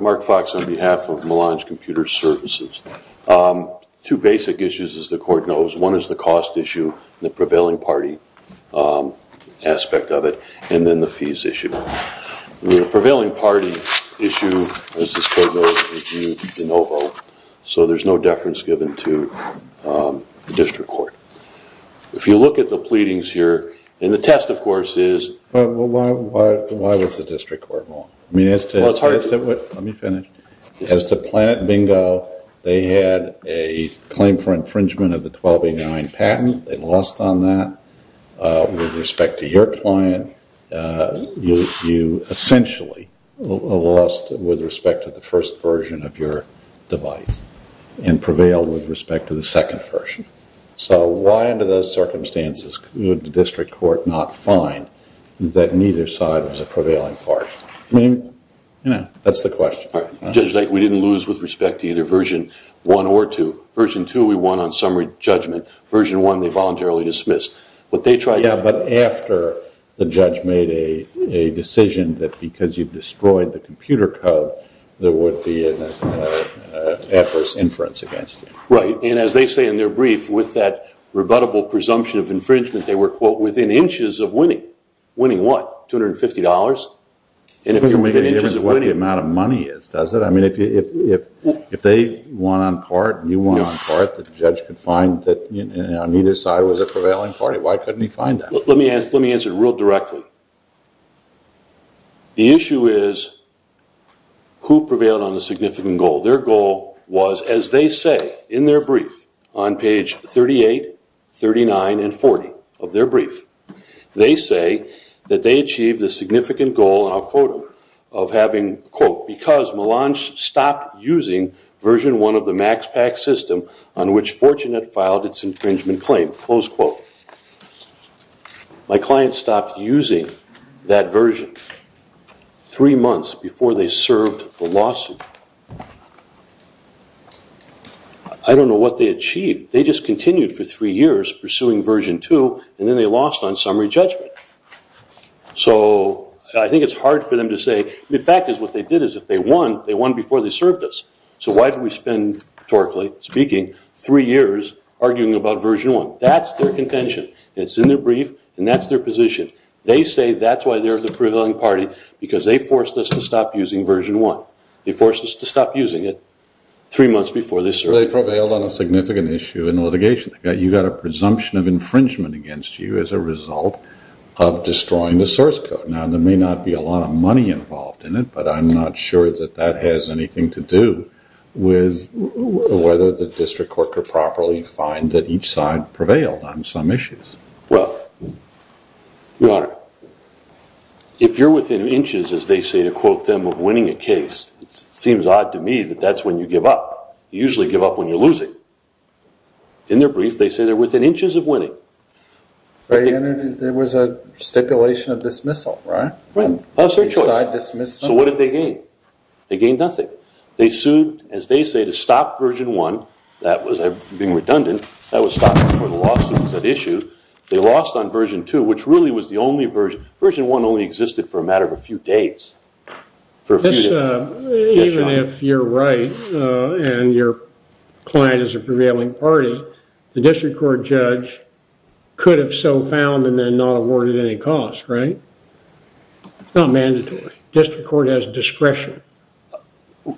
Mark Fox on behalf of Melange Computer Services. Two basic issues as the court knows. One is the cost issue, the prevailing party aspect of it, and then the fees issue. The prevailing party issue, as this court knows, is in OVO, so there's no deference given to the district court. If you look at the pleadings here, and the test of course is... Why was the district court wrong? As to Planet Bingo, they had a claim for infringement of the 1289 patent. They lost on that. With respect to your client, you essentially lost with respect to the first version of your device, and prevailed with respect to the second version. So why under those circumstances could the district court not find that neither side was a prevailing party? That's the question. Judge, we didn't lose with respect to either version 1 or 2. Version 2 we won on summary judgment. Version 1 they voluntarily dismissed. Yeah, but after the judge made a decision that because you've destroyed the computer code, there would be an adverse inference against you. Right, and as they say in their brief, with that rebuttable presumption of infringement, they were, quote, within inches of winning. Winning what? $250? It doesn't make any difference what the amount of money is, does it? I mean, if they won on part, and you won on part, the judge could find that neither side was a prevailing party. Why couldn't he find that? Let me answer it real directly. The issue is who prevailed on the significant goal. Their goal was, as they say in their brief, on page 38, 39, and 40 of their brief, they say that they achieved the significant goal, and I'll quote them, of having, quote, because Melange stopped using version 1 of the MaxPak system on which Fortunate filed its infringement claim, close quote. My client stopped using that version three months before they served the lawsuit. I don't know what they achieved. They just continued for three years pursuing version 2, and then they lost on summary judgment. So I think it's hard for them to say, the fact is what they did is if they won, they won before they served us. So why did we spend, rhetorically speaking, three years arguing about version 1? That's their contention. It's in their brief, and that's their position. They say that's why they're the prevailing party, because they forced us to stop using version 1. They forced us to stop using it three months before they served. They prevailed on a significant issue in litigation. You've got a presumption of infringement against you as a result of destroying the source code. Now, there may not be a lot of money involved in it, but I'm not sure that that has anything to do with whether the district court could properly find that each side prevailed on some issues. Well, Your Honor, if you're within inches, as they say, to quote them, of winning a case, it seems odd to me that that's when you give up. You usually give up when you're losing. In their brief, they say they're within inches of winning. There was a stipulation of dismissal, right? So what did they gain? They gained nothing. They sued, as they say, to stop version 1. That was being redundant. That was stopped before the lawsuit was at issue. They lost on version 2, which really was the only version. Version 1 only existed for a matter of a few days. Even if you're right and your client is a prevailing party, the district court judge could have so found and then not awarded any cost, right? It's not mandatory. The district court has discretion.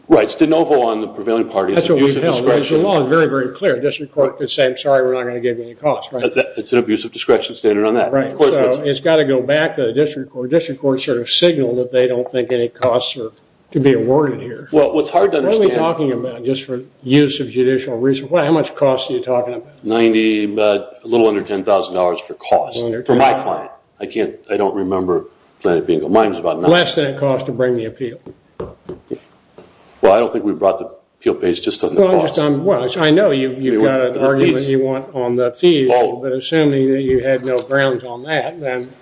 Right. It's de novo on the prevailing party. It's an abuse of discretion. That's what we've held. The law is very, very clear. The district court could say, I'm sorry, we're not going to give you any cost, right? It's an abuse of discretion standard on that. Right. It's got to go back to the district court. District courts sort of signal that they don't think any costs are to be awarded here. What are we talking about just for use of judicial reason? How much cost are you talking about? A little under $10,000 for cost for my client. I don't remember. Less than it costs to bring the appeal. Well, I don't think we brought the appeal page just on the cost. Well, I know you've got an argument you want on the fees, but assuming that you had no grounds on that, then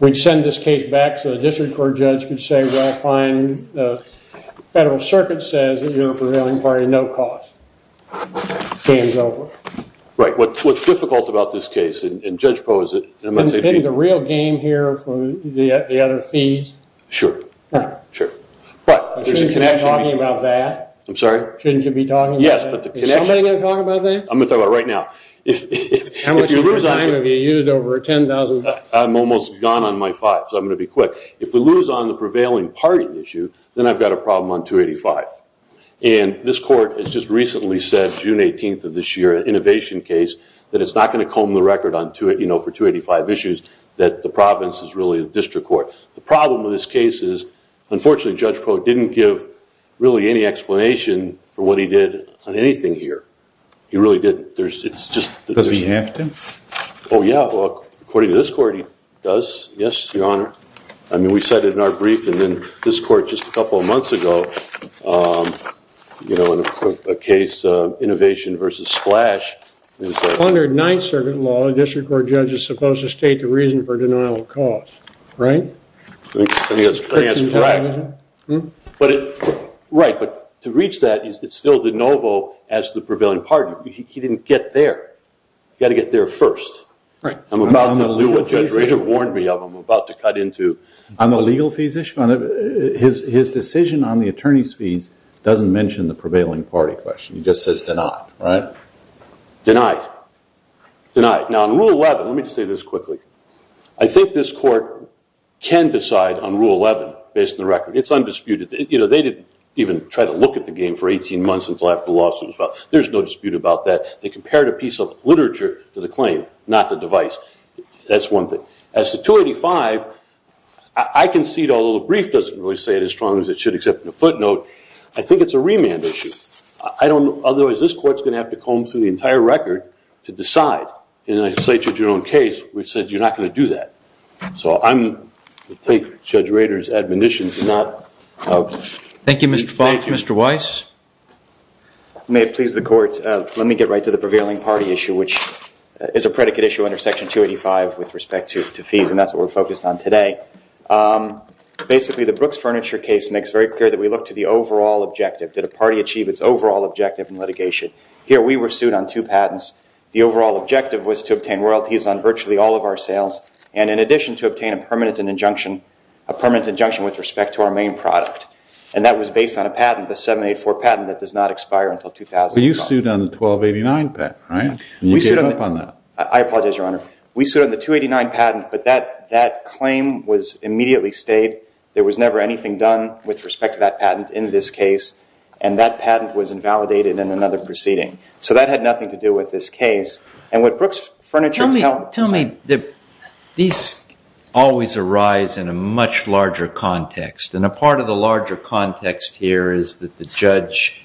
we'd send this case back so the district court judge could say, well, fine, the federal circuit says that you're a prevailing party, no cost. Game's over. Right. What's difficult about this case, and Judge Poe is it, In the real game here for the other fees? Sure. Shouldn't you be talking about that? Yes, but the connection Is somebody going to talk about that? I'm going to talk about it right now. How much is going to be used over $10,000? I'm almost gone on my five, so I'm going to be quick. If we lose on the prevailing party issue, then I've got a problem on 285. And this court has just recently said, June 18th of this year, an innovation case, that it's not going to comb the record for 285 issues, that the province is really the district court. The problem with this case is, unfortunately, Judge Poe didn't give really any explanation for what he did on anything here. He really didn't. Does he have to? Oh, yeah. According to this court, he does. Yes, Your Honor. I mean, we said it in our brief, and then this court just a couple of months ago, you know, a case, innovation versus splash. Under Ninth Circuit law, a district court judge is supposed to state the reason for denial of cause. Right. I think that's correct. Right, but to reach that, it's still de novo as to the prevailing party. He didn't get there. You've got to get there first. Right. I'm about to do what Judge Razor warned me of. I'm about to cut into... On the legal fees issue? His decision on the attorney's fees doesn't mention the prevailing party question. It just says denied, right? Denied. Denied. Now, in Rule 11, let me just say this quickly. I think this court can decide on Rule 11 based on the record. It's undisputed. You know, they didn't even try to look at the game for 18 months until after the lawsuit was filed. There's no dispute about that. They compared a piece of literature to the claim, not the device. That's one thing. As to 285, I concede, although the brief doesn't really say it as strongly as it should, except in the footnote, I think it's a remand issue. Otherwise, this court's going to have to comb through the entire record to decide. And I say to Jerome Case, which says you're not going to do that. So I'm going to take Judge Razor's admonition to not... Thank you, Mr. Falk. Mr. Weiss? May it please the Court, let me get right to the prevailing party issue, which is a predicate issue under Section 285 with respect to fees, and that's what we're focused on today. Basically, the Brooks Furniture case makes very clear that we look to the overall objective. Did a party achieve its overall objective in litigation? Here, we were sued on two patents. The overall objective was to obtain royalties on virtually all of our sales, and in addition to obtain a permanent injunction with respect to our main product, and that was based on a patent, the 784 patent that does not expire until 2005. But you sued on the 1289 patent, right? And you gave up on that. I apologize, Your Honor. We sued on the 289 patent, but that claim was immediately stayed. There was never anything done with respect to that patent in this case, and that patent was invalidated in another proceeding. So that had nothing to do with this case. Tell me, these always arise in a much larger context, and a part of the larger context here is that the judge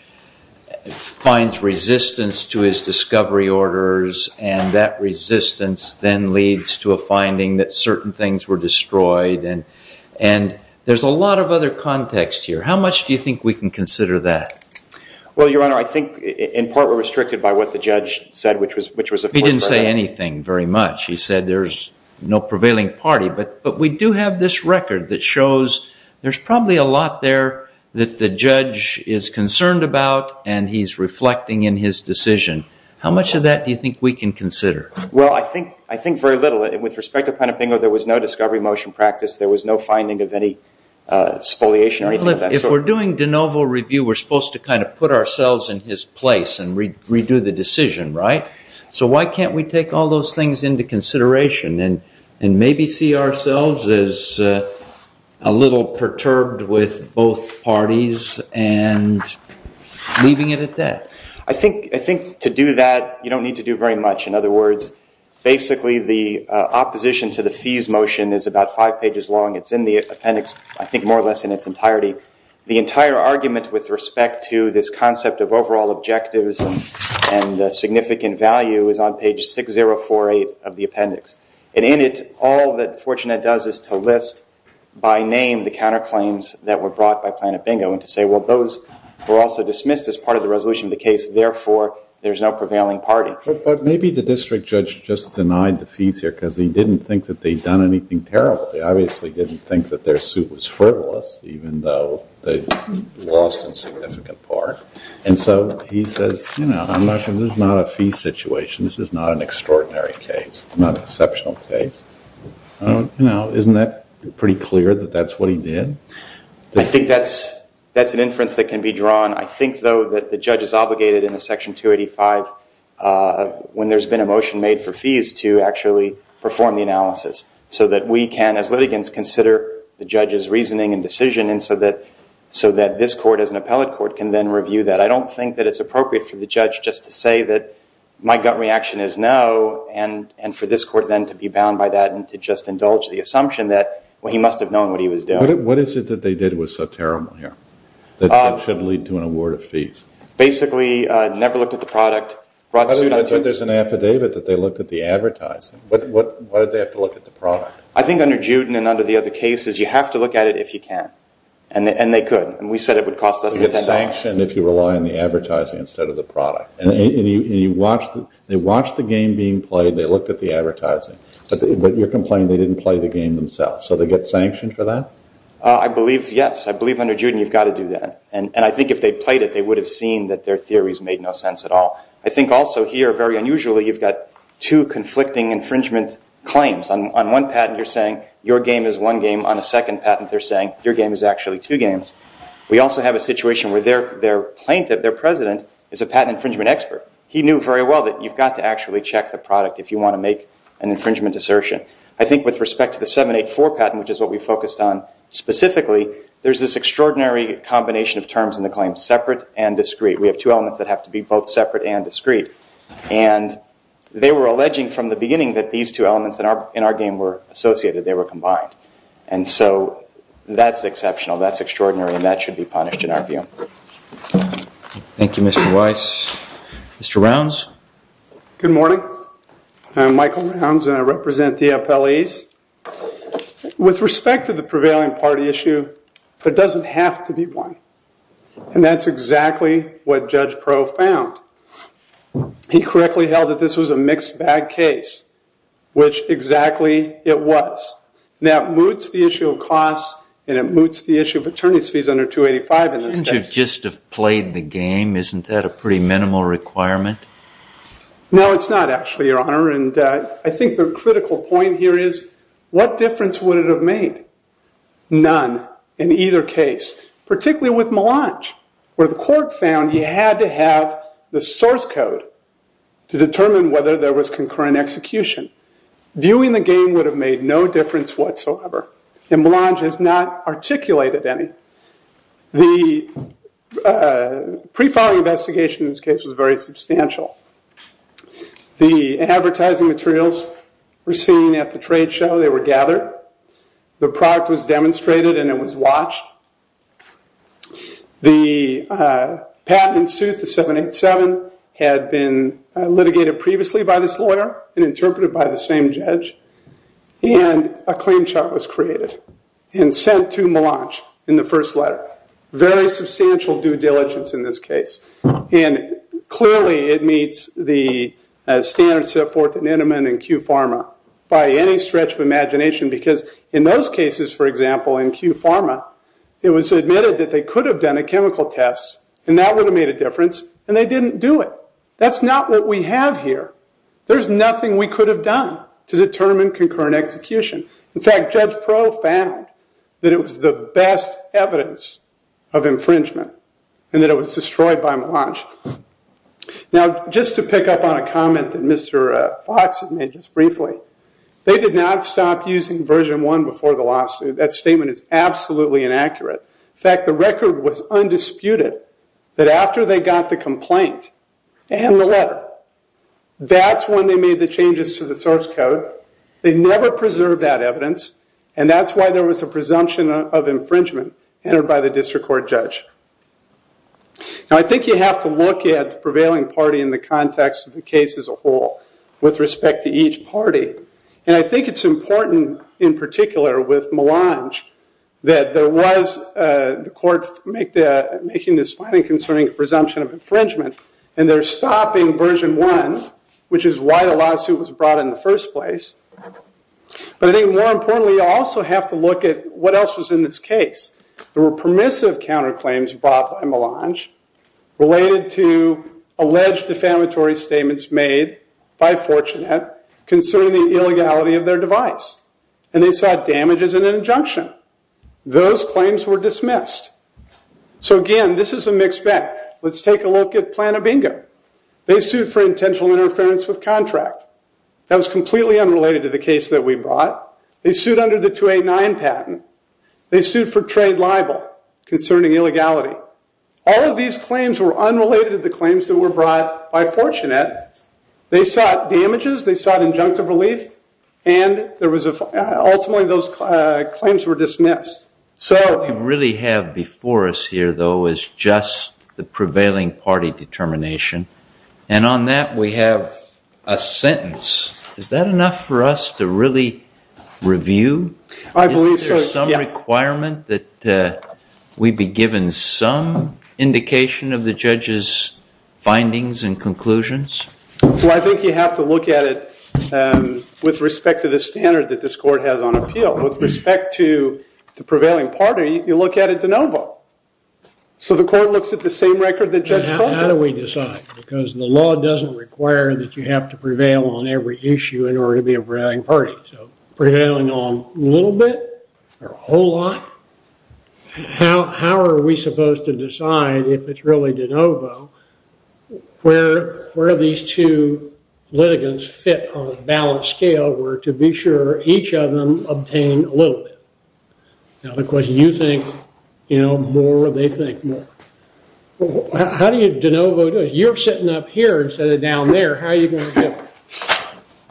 finds resistance to his discovery orders, and that resistance then leads to a finding that certain things were destroyed, and there's a lot of other context here. How much do you think we can consider that? Well, Your Honor, I think, in part, we're restricted by what the judge said, which was, of course, that- He didn't say anything very much. He said there's no prevailing party, but we do have this record that shows there's probably a lot there that the judge is concerned about, and he's reflecting in his decision. How much of that do you think we can consider? Well, I think very little. With respect to Panabingo, there was no discovery motion practice. There was no finding of any spoliation or anything of that sort. If we're doing de novo review, we're supposed to kind of put ourselves in his place and redo the decision, right? So why can't we take all those things into consideration and maybe see ourselves as a little perturbed with both parties and leaving it at that? I think to do that, you don't need to do very much. In other words, basically, the opposition to the fees motion is about five pages long. It's in the appendix, I think more or less in its entirety. The entire argument with respect to this concept of overall objectives and significant value is on page 6048 of the appendix. And in it, all that Fortunet does is to list by name the counterclaims that were brought by Panabingo and to say, well, those were also dismissed as part of the resolution of the case. Therefore, there's no prevailing party. But maybe the district judge just denied the fees here because he didn't think that they'd done anything terribly. He obviously didn't think that their suit was frivolous, even though they lost a significant part. And so he says, you know, I'm not sure this is not a fee situation. This is not an extraordinary case, not an exceptional case. You know, isn't that pretty clear that that's what he did? I think that's an inference that can be drawn. I think, though, that the judge is obligated in the Section 285 when there's been a motion made for fees to actually perform the analysis so that we can, as litigants, consider the judge's reasoning and decision and so that this court, as an appellate court, can then review that. I don't think that it's appropriate for the judge just to say that my gut reaction is no and for this court then to be bound by that and to just indulge the assumption that, well, he must have known what he was doing. What is it that they did was so terrible here that it should lead to an award of fees? Basically, never looked at the product. I thought there was an affidavit that they looked at the advertising. Why did they have to look at the product? I think under Juden and under the other cases, you have to look at it if you can, and they could. We said it would cost less than $10. You get sanctioned if you rely on the advertising instead of the product. They watched the game being played. They looked at the advertising, but you're complaining they didn't play the game themselves. So they get sanctioned for that? I believe, yes. I believe under Juden you've got to do that. I think if they played it, they would have seen that their theories made no sense at all. I think also here, very unusually, you've got two conflicting infringement claims. On one patent, you're saying your game is one game. On a second patent, they're saying your game is actually two games. We also have a situation where their plaintiff, their president, is a patent infringement expert. He knew very well that you've got to actually check the product if you want to make an infringement assertion. I think with respect to the 784 patent, which is what we focused on specifically, there's this extraordinary combination of terms in the claim, separate and discrete. We have two elements that have to be both separate and discrete. And they were alleging from the beginning that these two elements in our game were associated, they were combined. And so that's exceptional, that's extraordinary, and that should be punished in our view. Thank you, Mr. Weiss. Mr. Rounds? Good morning. I'm Michael Rounds, and I represent the FLEs. With respect to the prevailing party issue, there doesn't have to be one. And that's exactly what Judge Pro found. He correctly held that this was a mixed bag case, which exactly it was. Now, it moots the issue of costs, and it moots the issue of attorney's fees under 285 in this case. Shouldn't you just have played the game? Isn't that a pretty minimal requirement? No, it's not, actually, Your Honor. And I think the critical point here is what difference would it have made? None in either case. Particularly with Melange, where the court found you had to have the source code to determine whether there was concurrent execution. Viewing the game would have made no difference whatsoever. And Melange has not articulated any. The pre-filing investigation in this case was very substantial. The advertising materials were seen at the trade show. They were gathered. The product was demonstrated, and it was watched. The patent in suit, the 787, had been litigated previously by this lawyer and interpreted by the same judge. And a claim chart was created and sent to Melange in the first letter. Very substantial due diligence in this case. And clearly it meets the standards set forth at Neneman and Q Pharma by any stretch of imagination. Because in those cases, for example, in Q Pharma, it was admitted that they could have done a chemical test, and that would have made a difference, and they didn't do it. That's not what we have here. There's nothing we could have done to determine concurrent execution. In fact, Judge Pro found that it was the best evidence of infringement, and that it was destroyed by Melange. Now, just to pick up on a comment that Mr. Fox had made just briefly, they did not stop using version 1 before the lawsuit. That statement is absolutely inaccurate. In fact, the record was undisputed that after they got the complaint and the letter, that's when they made the changes to the source code. They never preserved that evidence, and that's why there was a presumption of infringement entered by the district court judge. Now, I think you have to look at the prevailing party in the context of the case as a whole with respect to each party. And I think it's important in particular with Melange that there was the court making this fine and concerning presumption of infringement, and they're stopping version 1, which is why the lawsuit was brought in the first place. But I think more importantly, you also have to look at what else was in this case. There were permissive counterclaims brought by Melange related to alleged defamatory statements made by Fortunet concerning the illegality of their device. And they saw damage as an injunction. Those claims were dismissed. So again, this is a mixed bag. Let's take a look at Planabingo. They sued for intentional interference with contract. That was completely unrelated to the case that we brought. They sued under the 289 patent. They sued for trade libel concerning illegality. All of these claims were unrelated to the claims that were brought by Fortunet. They sought damages. They sought injunctive relief. And ultimately, those claims were dismissed. What we really have before us here, though, is just the prevailing party determination. And on that, we have a sentence. Is that enough for us to really review? Is there some requirement that we be given some indication of the judge's findings and conclusions? Well, I think you have to look at it with respect to the standard that this court has on appeal. With respect to the prevailing party, you look at it de novo. So the court looks at the same record the judge called it. How do we decide? Because the law doesn't require that you have to prevail on every issue in order to be a prevailing party. So prevailing on a little bit or a whole lot? How are we supposed to decide if it's really de novo where these two litigants fit on a balanced scale? Or to be sure, each of them obtained a little bit? Now, the question is, do you think more or do they think more? How do you de novo? You're sitting up here instead of down there. How are you going to do it?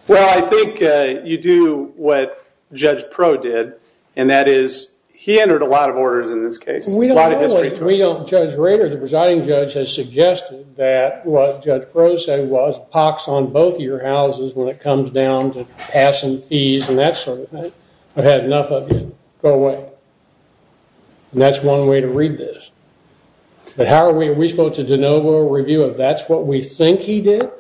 Well, I think you do what Judge Pro did. And that is, he entered a lot of orders in this case. We don't know what Judge Rader, the presiding judge, has suggested that what Judge Pro said was and that sort of thing. I've had enough of you. Go away. And that's one way to read this. But how are we? Are we supposed to de novo a review of that's what we think he did?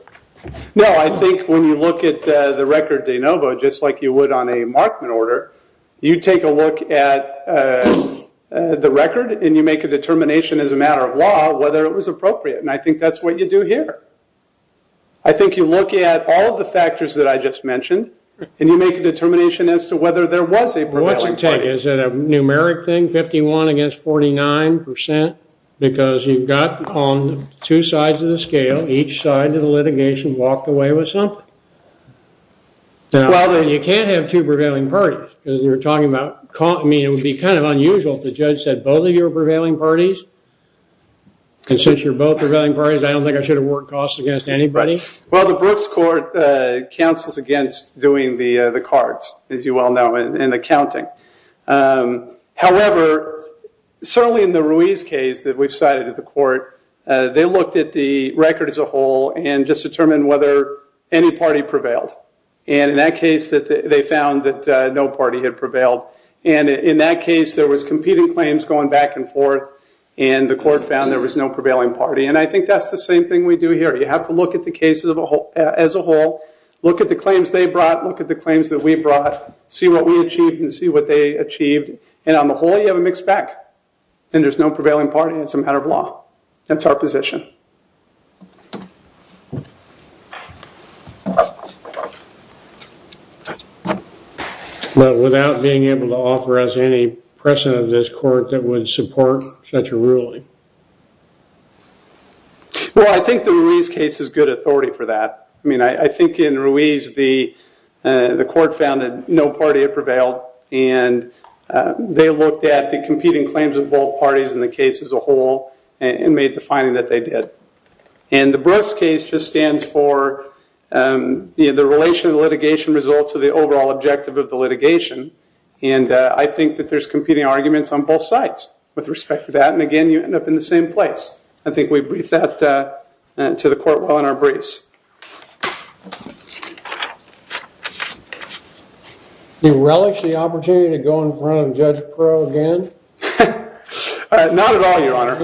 No, I think when you look at the record de novo, just like you would on a Markman order, you take a look at the record and you make a determination as a matter of law whether it was appropriate. And I think that's what you do here. I think you look at all of the factors that I just mentioned and you make a determination as to whether there was a prevailing party. Well, what's it take? Is it a numeric thing, 51 against 49 percent? Because you've got on two sides of the scale, each side of the litigation, walked away with something. Well, then you can't have two prevailing parties because you're talking about, I mean, it would be kind of unusual if the judge said both of you are prevailing parties. And since you're both prevailing parties, I don't think I should award costs against anybody? Well, the Brooks Court counsels against doing the cards, as you well know, and accounting. However, certainly in the Ruiz case that we've cited at the court, they looked at the record as a whole and just determined whether any party prevailed. And in that case, they found that no party had prevailed. And in that case, there was competing claims going back and forth, and the court found there was no prevailing party. And I think that's the same thing we do here. You have to look at the cases as a whole, look at the claims they brought, look at the claims that we brought, see what we achieved and see what they achieved. And on the whole, you have a mixed bag. And there's no prevailing party and it's a matter of law. That's our position. But without being able to offer us any precedent of this court that would support such a ruling? Well, I think the Ruiz case is good authority for that. I mean, I think in Ruiz the court found that no party had prevailed and they looked at the competing claims of both parties in the case as a whole and made the finding that they did. And the Brooks case just stands for the relation of the litigation result to the overall objective of the litigation. And I think that there's competing arguments on both sides with respect to that. And again, you end up in the same place. I think we brief that to the court while in our briefs. Do you relish the opportunity to go in front of Judge Pearl again? Not at all, Your Honor.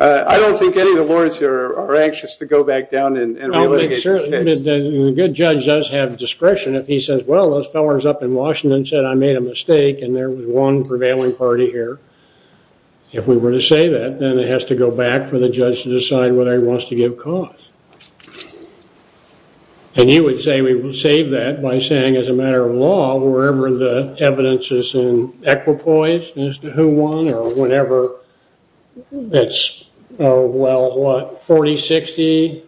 I don't think any of the lawyers here are anxious to go back down and relitigate this case. The good judge does have discretion if he says, well, those fellows up in Washington said I made a mistake and there was one prevailing party here. If we were to say that, then it has to go back for the judge to decide whether he wants to give cause. And you would say we would save that by saying, as a matter of law, wherever the evidence is in equipoise as to who won or whenever, it's, well, what, 40-60?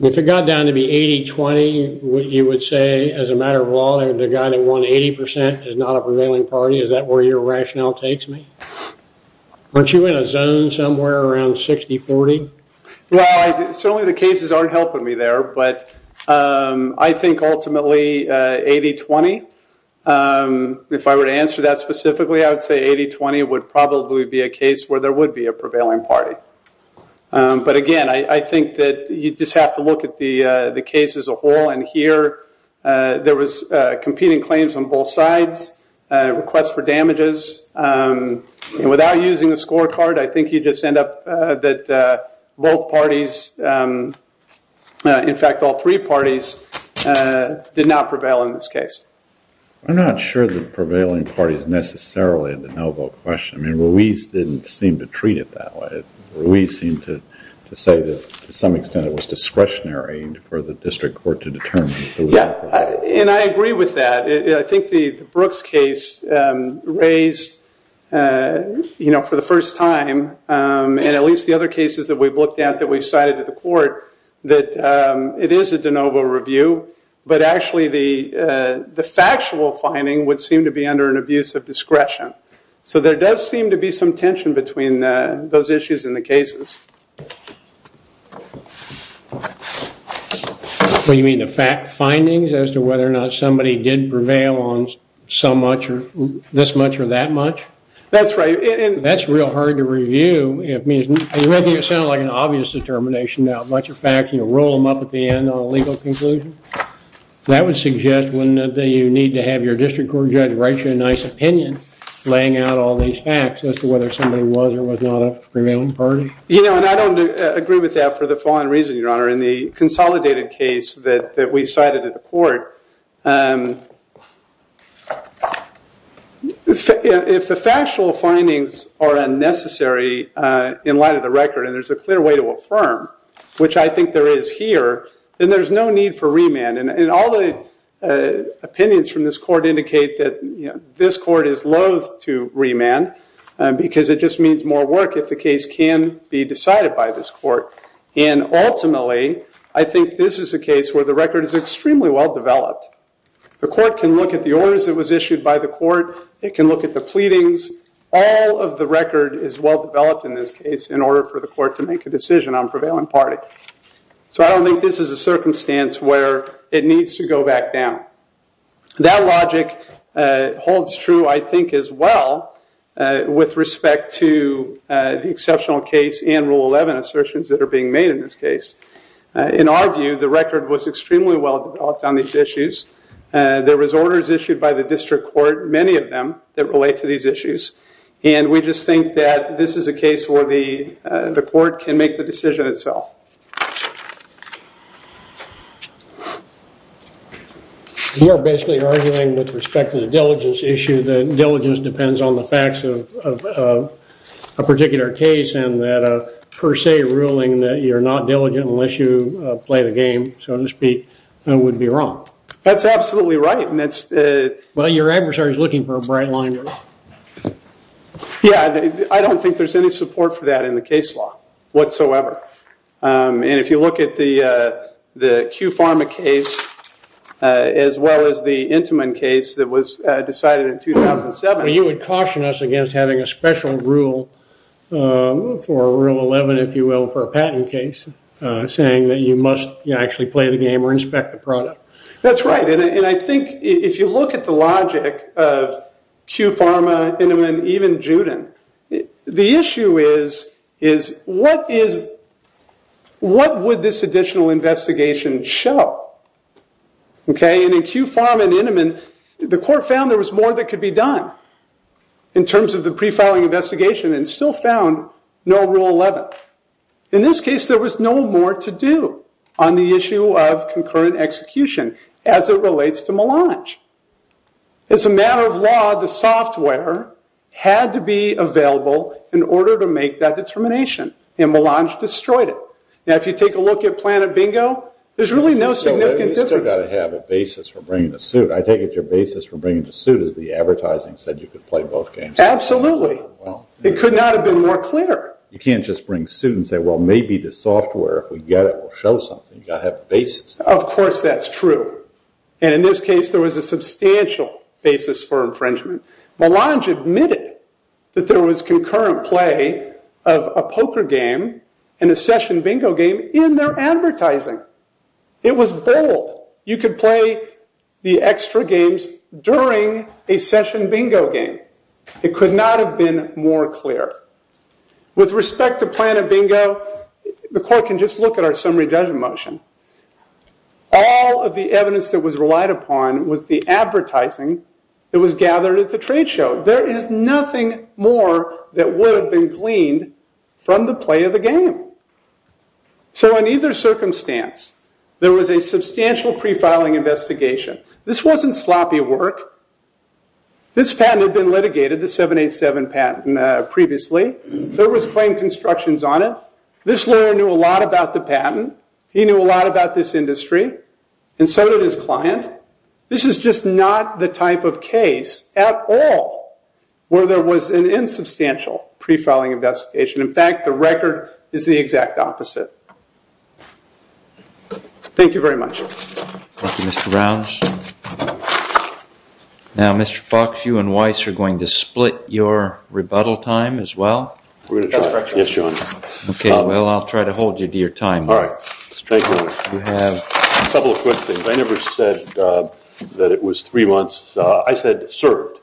If it got down to be 80-20, you would say, as a matter of law, the guy that won 80 percent is not a prevailing party? Is that where your rationale takes me? Aren't you in a zone somewhere around 60-40? Well, certainly the cases aren't helping me there. But I think ultimately 80-20, if I were to answer that specifically, I would say 80-20 would probably be a case where there would be a prevailing party. But, again, I think that you just have to look at the case as a whole. And here there was competing claims on both sides, requests for damages. And without using a scorecard, I think you just end up that both parties, in fact all three parties, did not prevail in this case. I'm not sure that prevailing parties necessarily are the no-vote question. I mean, Ruiz didn't seem to treat it that way. Ruiz seemed to say that, to some extent, it was discretionary for the district court to determine. Yeah, and I agree with that. I think the Brooks case raised, for the first time, and at least the other cases that we've looked at that we've cited to the court, that it is a de novo review, but actually the factual finding would seem to be under an abuse of discretion. So there does seem to be some tension between those issues and the cases. What do you mean, the fact findings, as to whether or not somebody did prevail on this much or that much? That's right. That's real hard to review. You're making it sound like an obvious determination. Now, a bunch of facts, you roll them up at the end on a legal conclusion? That would suggest, wouldn't it, that you need to have your district court judge write you a nice opinion laying out all these facts as to whether somebody was or was not a prevailing party? You know, and I don't agree with that for the following reason, Your Honor. In the consolidated case that we cited at the court, if the factual findings are unnecessary in light of the record and there's a clear way to affirm, which I think there is here, then there's no need for remand. And all the opinions from this court indicate that this court is loathe to remand because it just means more work if the case can be decided by this court. And ultimately, I think this is a case where the record is extremely well-developed. The court can look at the orders that was issued by the court. It can look at the pleadings. All of the record is well-developed in this case in order for the court to make a decision on prevailing party. So I don't think this is a circumstance where it needs to go back down. That logic holds true, I think, as well with respect to the exceptional case and Rule 11 assertions that are being made in this case. In our view, the record was extremely well-developed on these issues. There was orders issued by the district court, many of them, that relate to these issues. And we just think that this is a case where the court can make the decision itself. You are basically arguing with respect to the diligence issue that diligence depends on the facts of a particular case and that a per se ruling that you're not diligent unless you play the game, so to speak, would be wrong. That's absolutely right. Well, your adversary is looking for a bright line here. Yeah, I don't think there's any support for that in the case law whatsoever. And if you look at the Q Pharma case as well as the Intiman case that was decided in 2007. Well, you would caution us against having a special rule for Rule 11, if you will, for a patent case, saying that you must actually play the game or inspect the product. That's right. And I think if you look at the logic of Q Pharma, Intiman, even Juden, the issue is what would this additional investigation show? And in Q Pharma and Intiman, the court found there was more that could be done in terms of the pre-filing investigation and still found no Rule 11. In this case, there was no more to do on the issue of concurrent execution as it relates to Melange. As a matter of law, the software had to be available in order to make that determination. And Melange destroyed it. Now, if you take a look at Planet Bingo, there's really no significant difference. You've still got to have a basis for bringing the suit. I take it your basis for bringing the suit is the advertising said you could play both games. Absolutely. It could not have been more clear. You can't just bring suit and say, well, maybe the software, if we get it, will show something. You've got to have a basis. Of course that's true. And in this case, there was a substantial basis for infringement. Melange admitted that there was concurrent play of a poker game and a session bingo game in their advertising. It was bold. You could play the extra games during a session bingo game. It could not have been more clear. With respect to Planet Bingo, the court can just look at our summary judgment motion. All of the evidence that was relied upon was the advertising that was gathered at the trade show. There is nothing more that would have been gleaned from the play of the game. So in either circumstance, there was a substantial pre-filing investigation. This wasn't sloppy work. This patent had been litigated, the 787 patent previously. There was claim constructions on it. This lawyer knew a lot about the patent. He knew a lot about this industry. And so did his client. This is just not the type of case at all where there was an insubstantial pre-filing investigation. In fact, the record is the exact opposite. Thank you very much. Thank you, Mr. Rounds. Now, Mr. Fox, you and Weiss are going to split your rebuttal time as well. That's correct, your Honor. Okay, well, I'll try to hold you to your time. All right. You have a couple of questions. I never said that it was three months. I said served.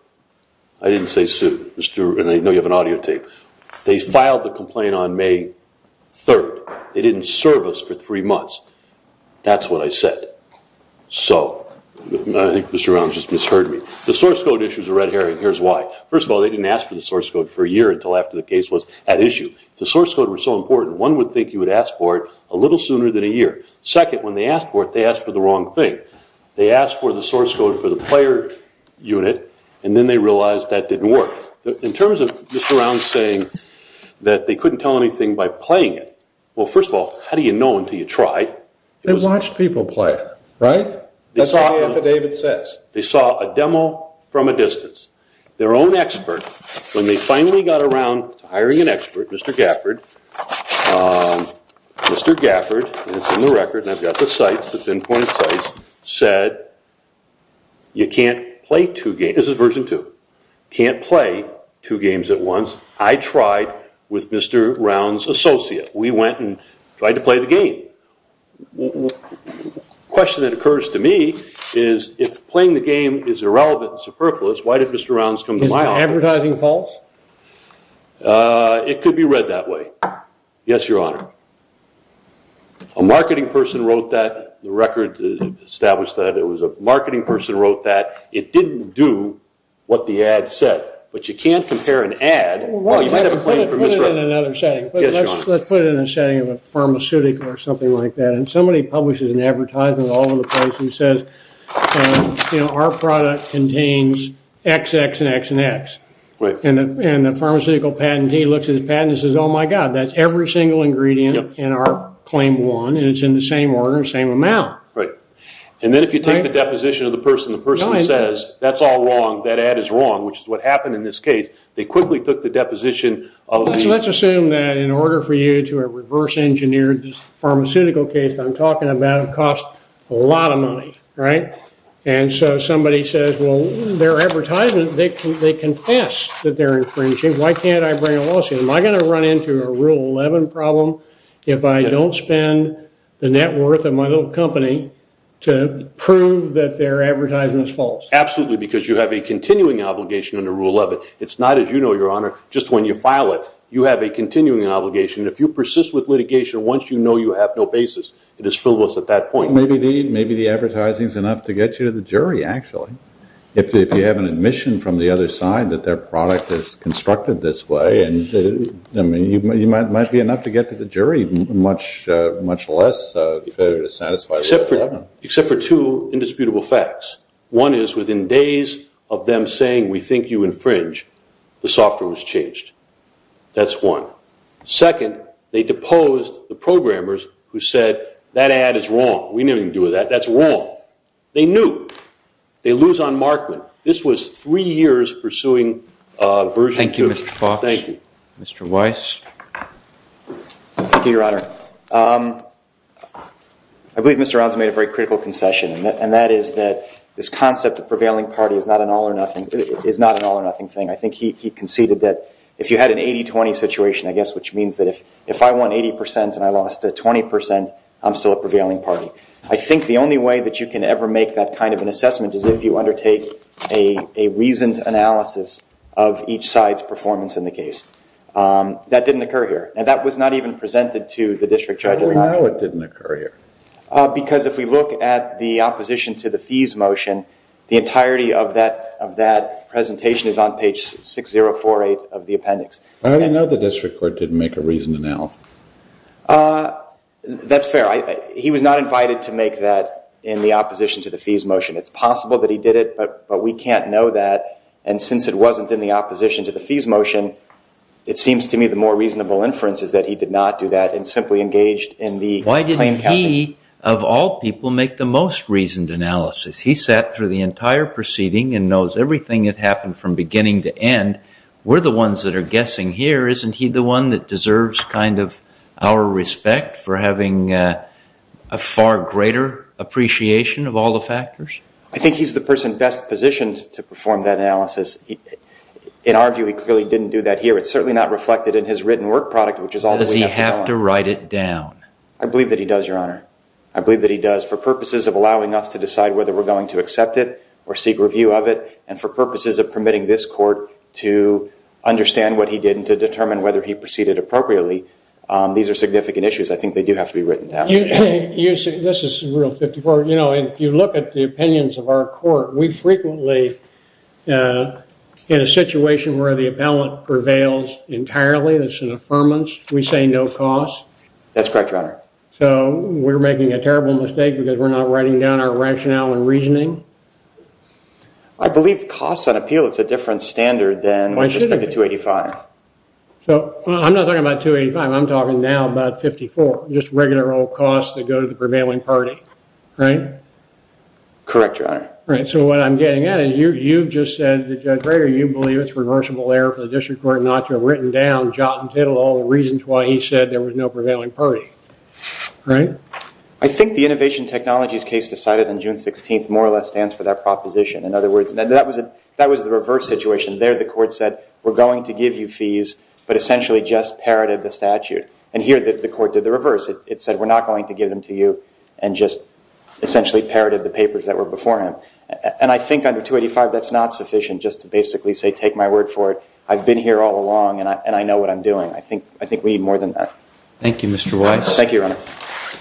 I didn't say sued. And I know you have an audio tape. They filed the complaint on May 3rd. They didn't serve us for three months. That's what I said. So I think Mr. Rounds just misheard me. The source code issues a red herring. Here's why. First of all, they didn't ask for the source code for a year until after the case was at issue. If the source code were so important, one would think you would ask for it a little sooner than a year. Second, when they asked for it, they asked for the wrong thing. They asked for the source code for the player unit, and then they realized that didn't work. In terms of Mr. Rounds saying that they couldn't tell anything by playing it, well, first of all, how do you know until you try? They watched people play it, right? That's all the affidavit says. They saw a demo from a distance. Their own expert, when they finally got around to hiring an expert, Mr. Gafford, and it's in the record, and I've got the sites, the pinpoint sites, said you can't play two games. This is version two. Can't play two games at once. I tried with Mr. Rounds' associate. We went and tried to play the game. The question that occurs to me is if playing the game is irrelevant and superfluous, why did Mr. Rounds come to my office? Is the advertising false? It could be read that way. Yes, Your Honor. A marketing person wrote that. The record established that. It was a marketing person who wrote that. It didn't do what the ad said, but you can't compare an ad. Well, you might have a claim for misrep. Let's put it in another setting. Yes, Your Honor. Let's put it in a setting of a pharmaceutical or something like that, and somebody publishes an advertisement all over the place and says, you know, our product contains X, X, and X, and X, and the pharmaceutical patentee looks at his patent and says, oh, my God, that's every single ingredient in our claim one, and it's in the same order, same amount. Right. And then if you take the deposition of the person, the person says, that's all wrong, that ad is wrong, which is what happened in this case. They quickly took the deposition. So let's assume that in order for you to reverse engineer this pharmaceutical case I'm talking about, it costs a lot of money, right? And so somebody says, well, their advertisement, they confess that they're infringing. Why can't I bring a lawsuit? Am I going to run into a Rule 11 problem if I don't spend the net worth of my little company to prove that their advertisement is false? Absolutely, because you have a continuing obligation under Rule 11. It's not, as you know, Your Honor, just when you file it, you have a continuing obligation. If you persist with litigation once you know you have no basis, it is frivolous at that point. Maybe the advertising is enough to get you to the jury, actually. If you have an admission from the other side that their product is constructed this way, you might be enough to get to the jury, much less to satisfy Rule 11. Except for two indisputable facts. One is within days of them saying, we think you infringe, the software was changed. That's one. Second, they deposed the programmers who said, that ad is wrong. We have nothing to do with that. That's wrong. They knew. They lose on Markman. This was three years pursuing a version. Thank you, Mr. Fox. Thank you. Mr. Weiss. Thank you, Your Honor. I believe Mr. Rounds made a very critical concession. And that is that this concept of prevailing party is not an all or nothing thing. I think he conceded that if you had an 80-20 situation, I guess, which means that if I won 80% and I lost 20%, I'm still a prevailing party. I think the only way that you can ever make that kind of an assessment is if you undertake a reasoned analysis of each side's performance in the case. That didn't occur here. And that was not even presented to the district judges. How do you know it didn't occur here? Because if we look at the opposition to the fees motion, the entirety of that presentation is on page 6048 of the appendix. How do you know the district court didn't make a reasoned analysis? That's fair. He was not invited to make that in the opposition to the fees motion. It's possible that he did it, but we can't know that. And since it wasn't in the opposition to the fees motion, it seems to me the more reasonable inference is that he did not do that and simply engaged in the claim campaign. Why didn't he, of all people, make the most reasoned analysis? He sat through the entire proceeding and knows everything that happened from beginning to end. We're the ones that are guessing here. Isn't he the one that deserves kind of our respect for having a far greater appreciation of all the factors? I think he's the person best positioned to perform that analysis. In our view, he clearly didn't do that here. It's certainly not reflected in his written work product, which is all we have to know. Does he have to write it down? I believe that he does, Your Honor. I believe that he does for purposes of allowing us to decide whether we're going to accept it or seek review of it and for purposes of permitting this court to understand what he did and to determine whether he proceeded appropriately. These are significant issues. I think they do have to be written down. This is Rule 54. If you look at the opinions of our court, we frequently, in a situation where the appellant prevails entirely, that's an affirmance, we say no costs. That's correct, Your Honor. We're making a terrible mistake because we're not writing down our rationale and reasoning. I believe costs on appeal, it's a different standard than 285. I'm not talking about 285. I'm talking now about 54, just regular old costs that go to the prevailing party, right? Correct, Your Honor. All right, so what I'm getting at is you've just said to Judge Brader you believe it's reversible error for the district court not to have written down, jot and tittle, all the reasons why he said there was no prevailing party, right? I think the innovation technologies case decided on June 16th more or less stands for that proposition. In other words, that was the reverse situation. There the court said we're going to give you fees but essentially just parroted the statute. And here the court did the reverse. It said we're not going to give them to you and just essentially parroted the papers that were before him. And I think under 285 that's not sufficient just to basically say take my word for it. I've been here all along and I know what I'm doing. I think we need more than that. Thank you, Mr. Weiss. Thank you, Your Honor.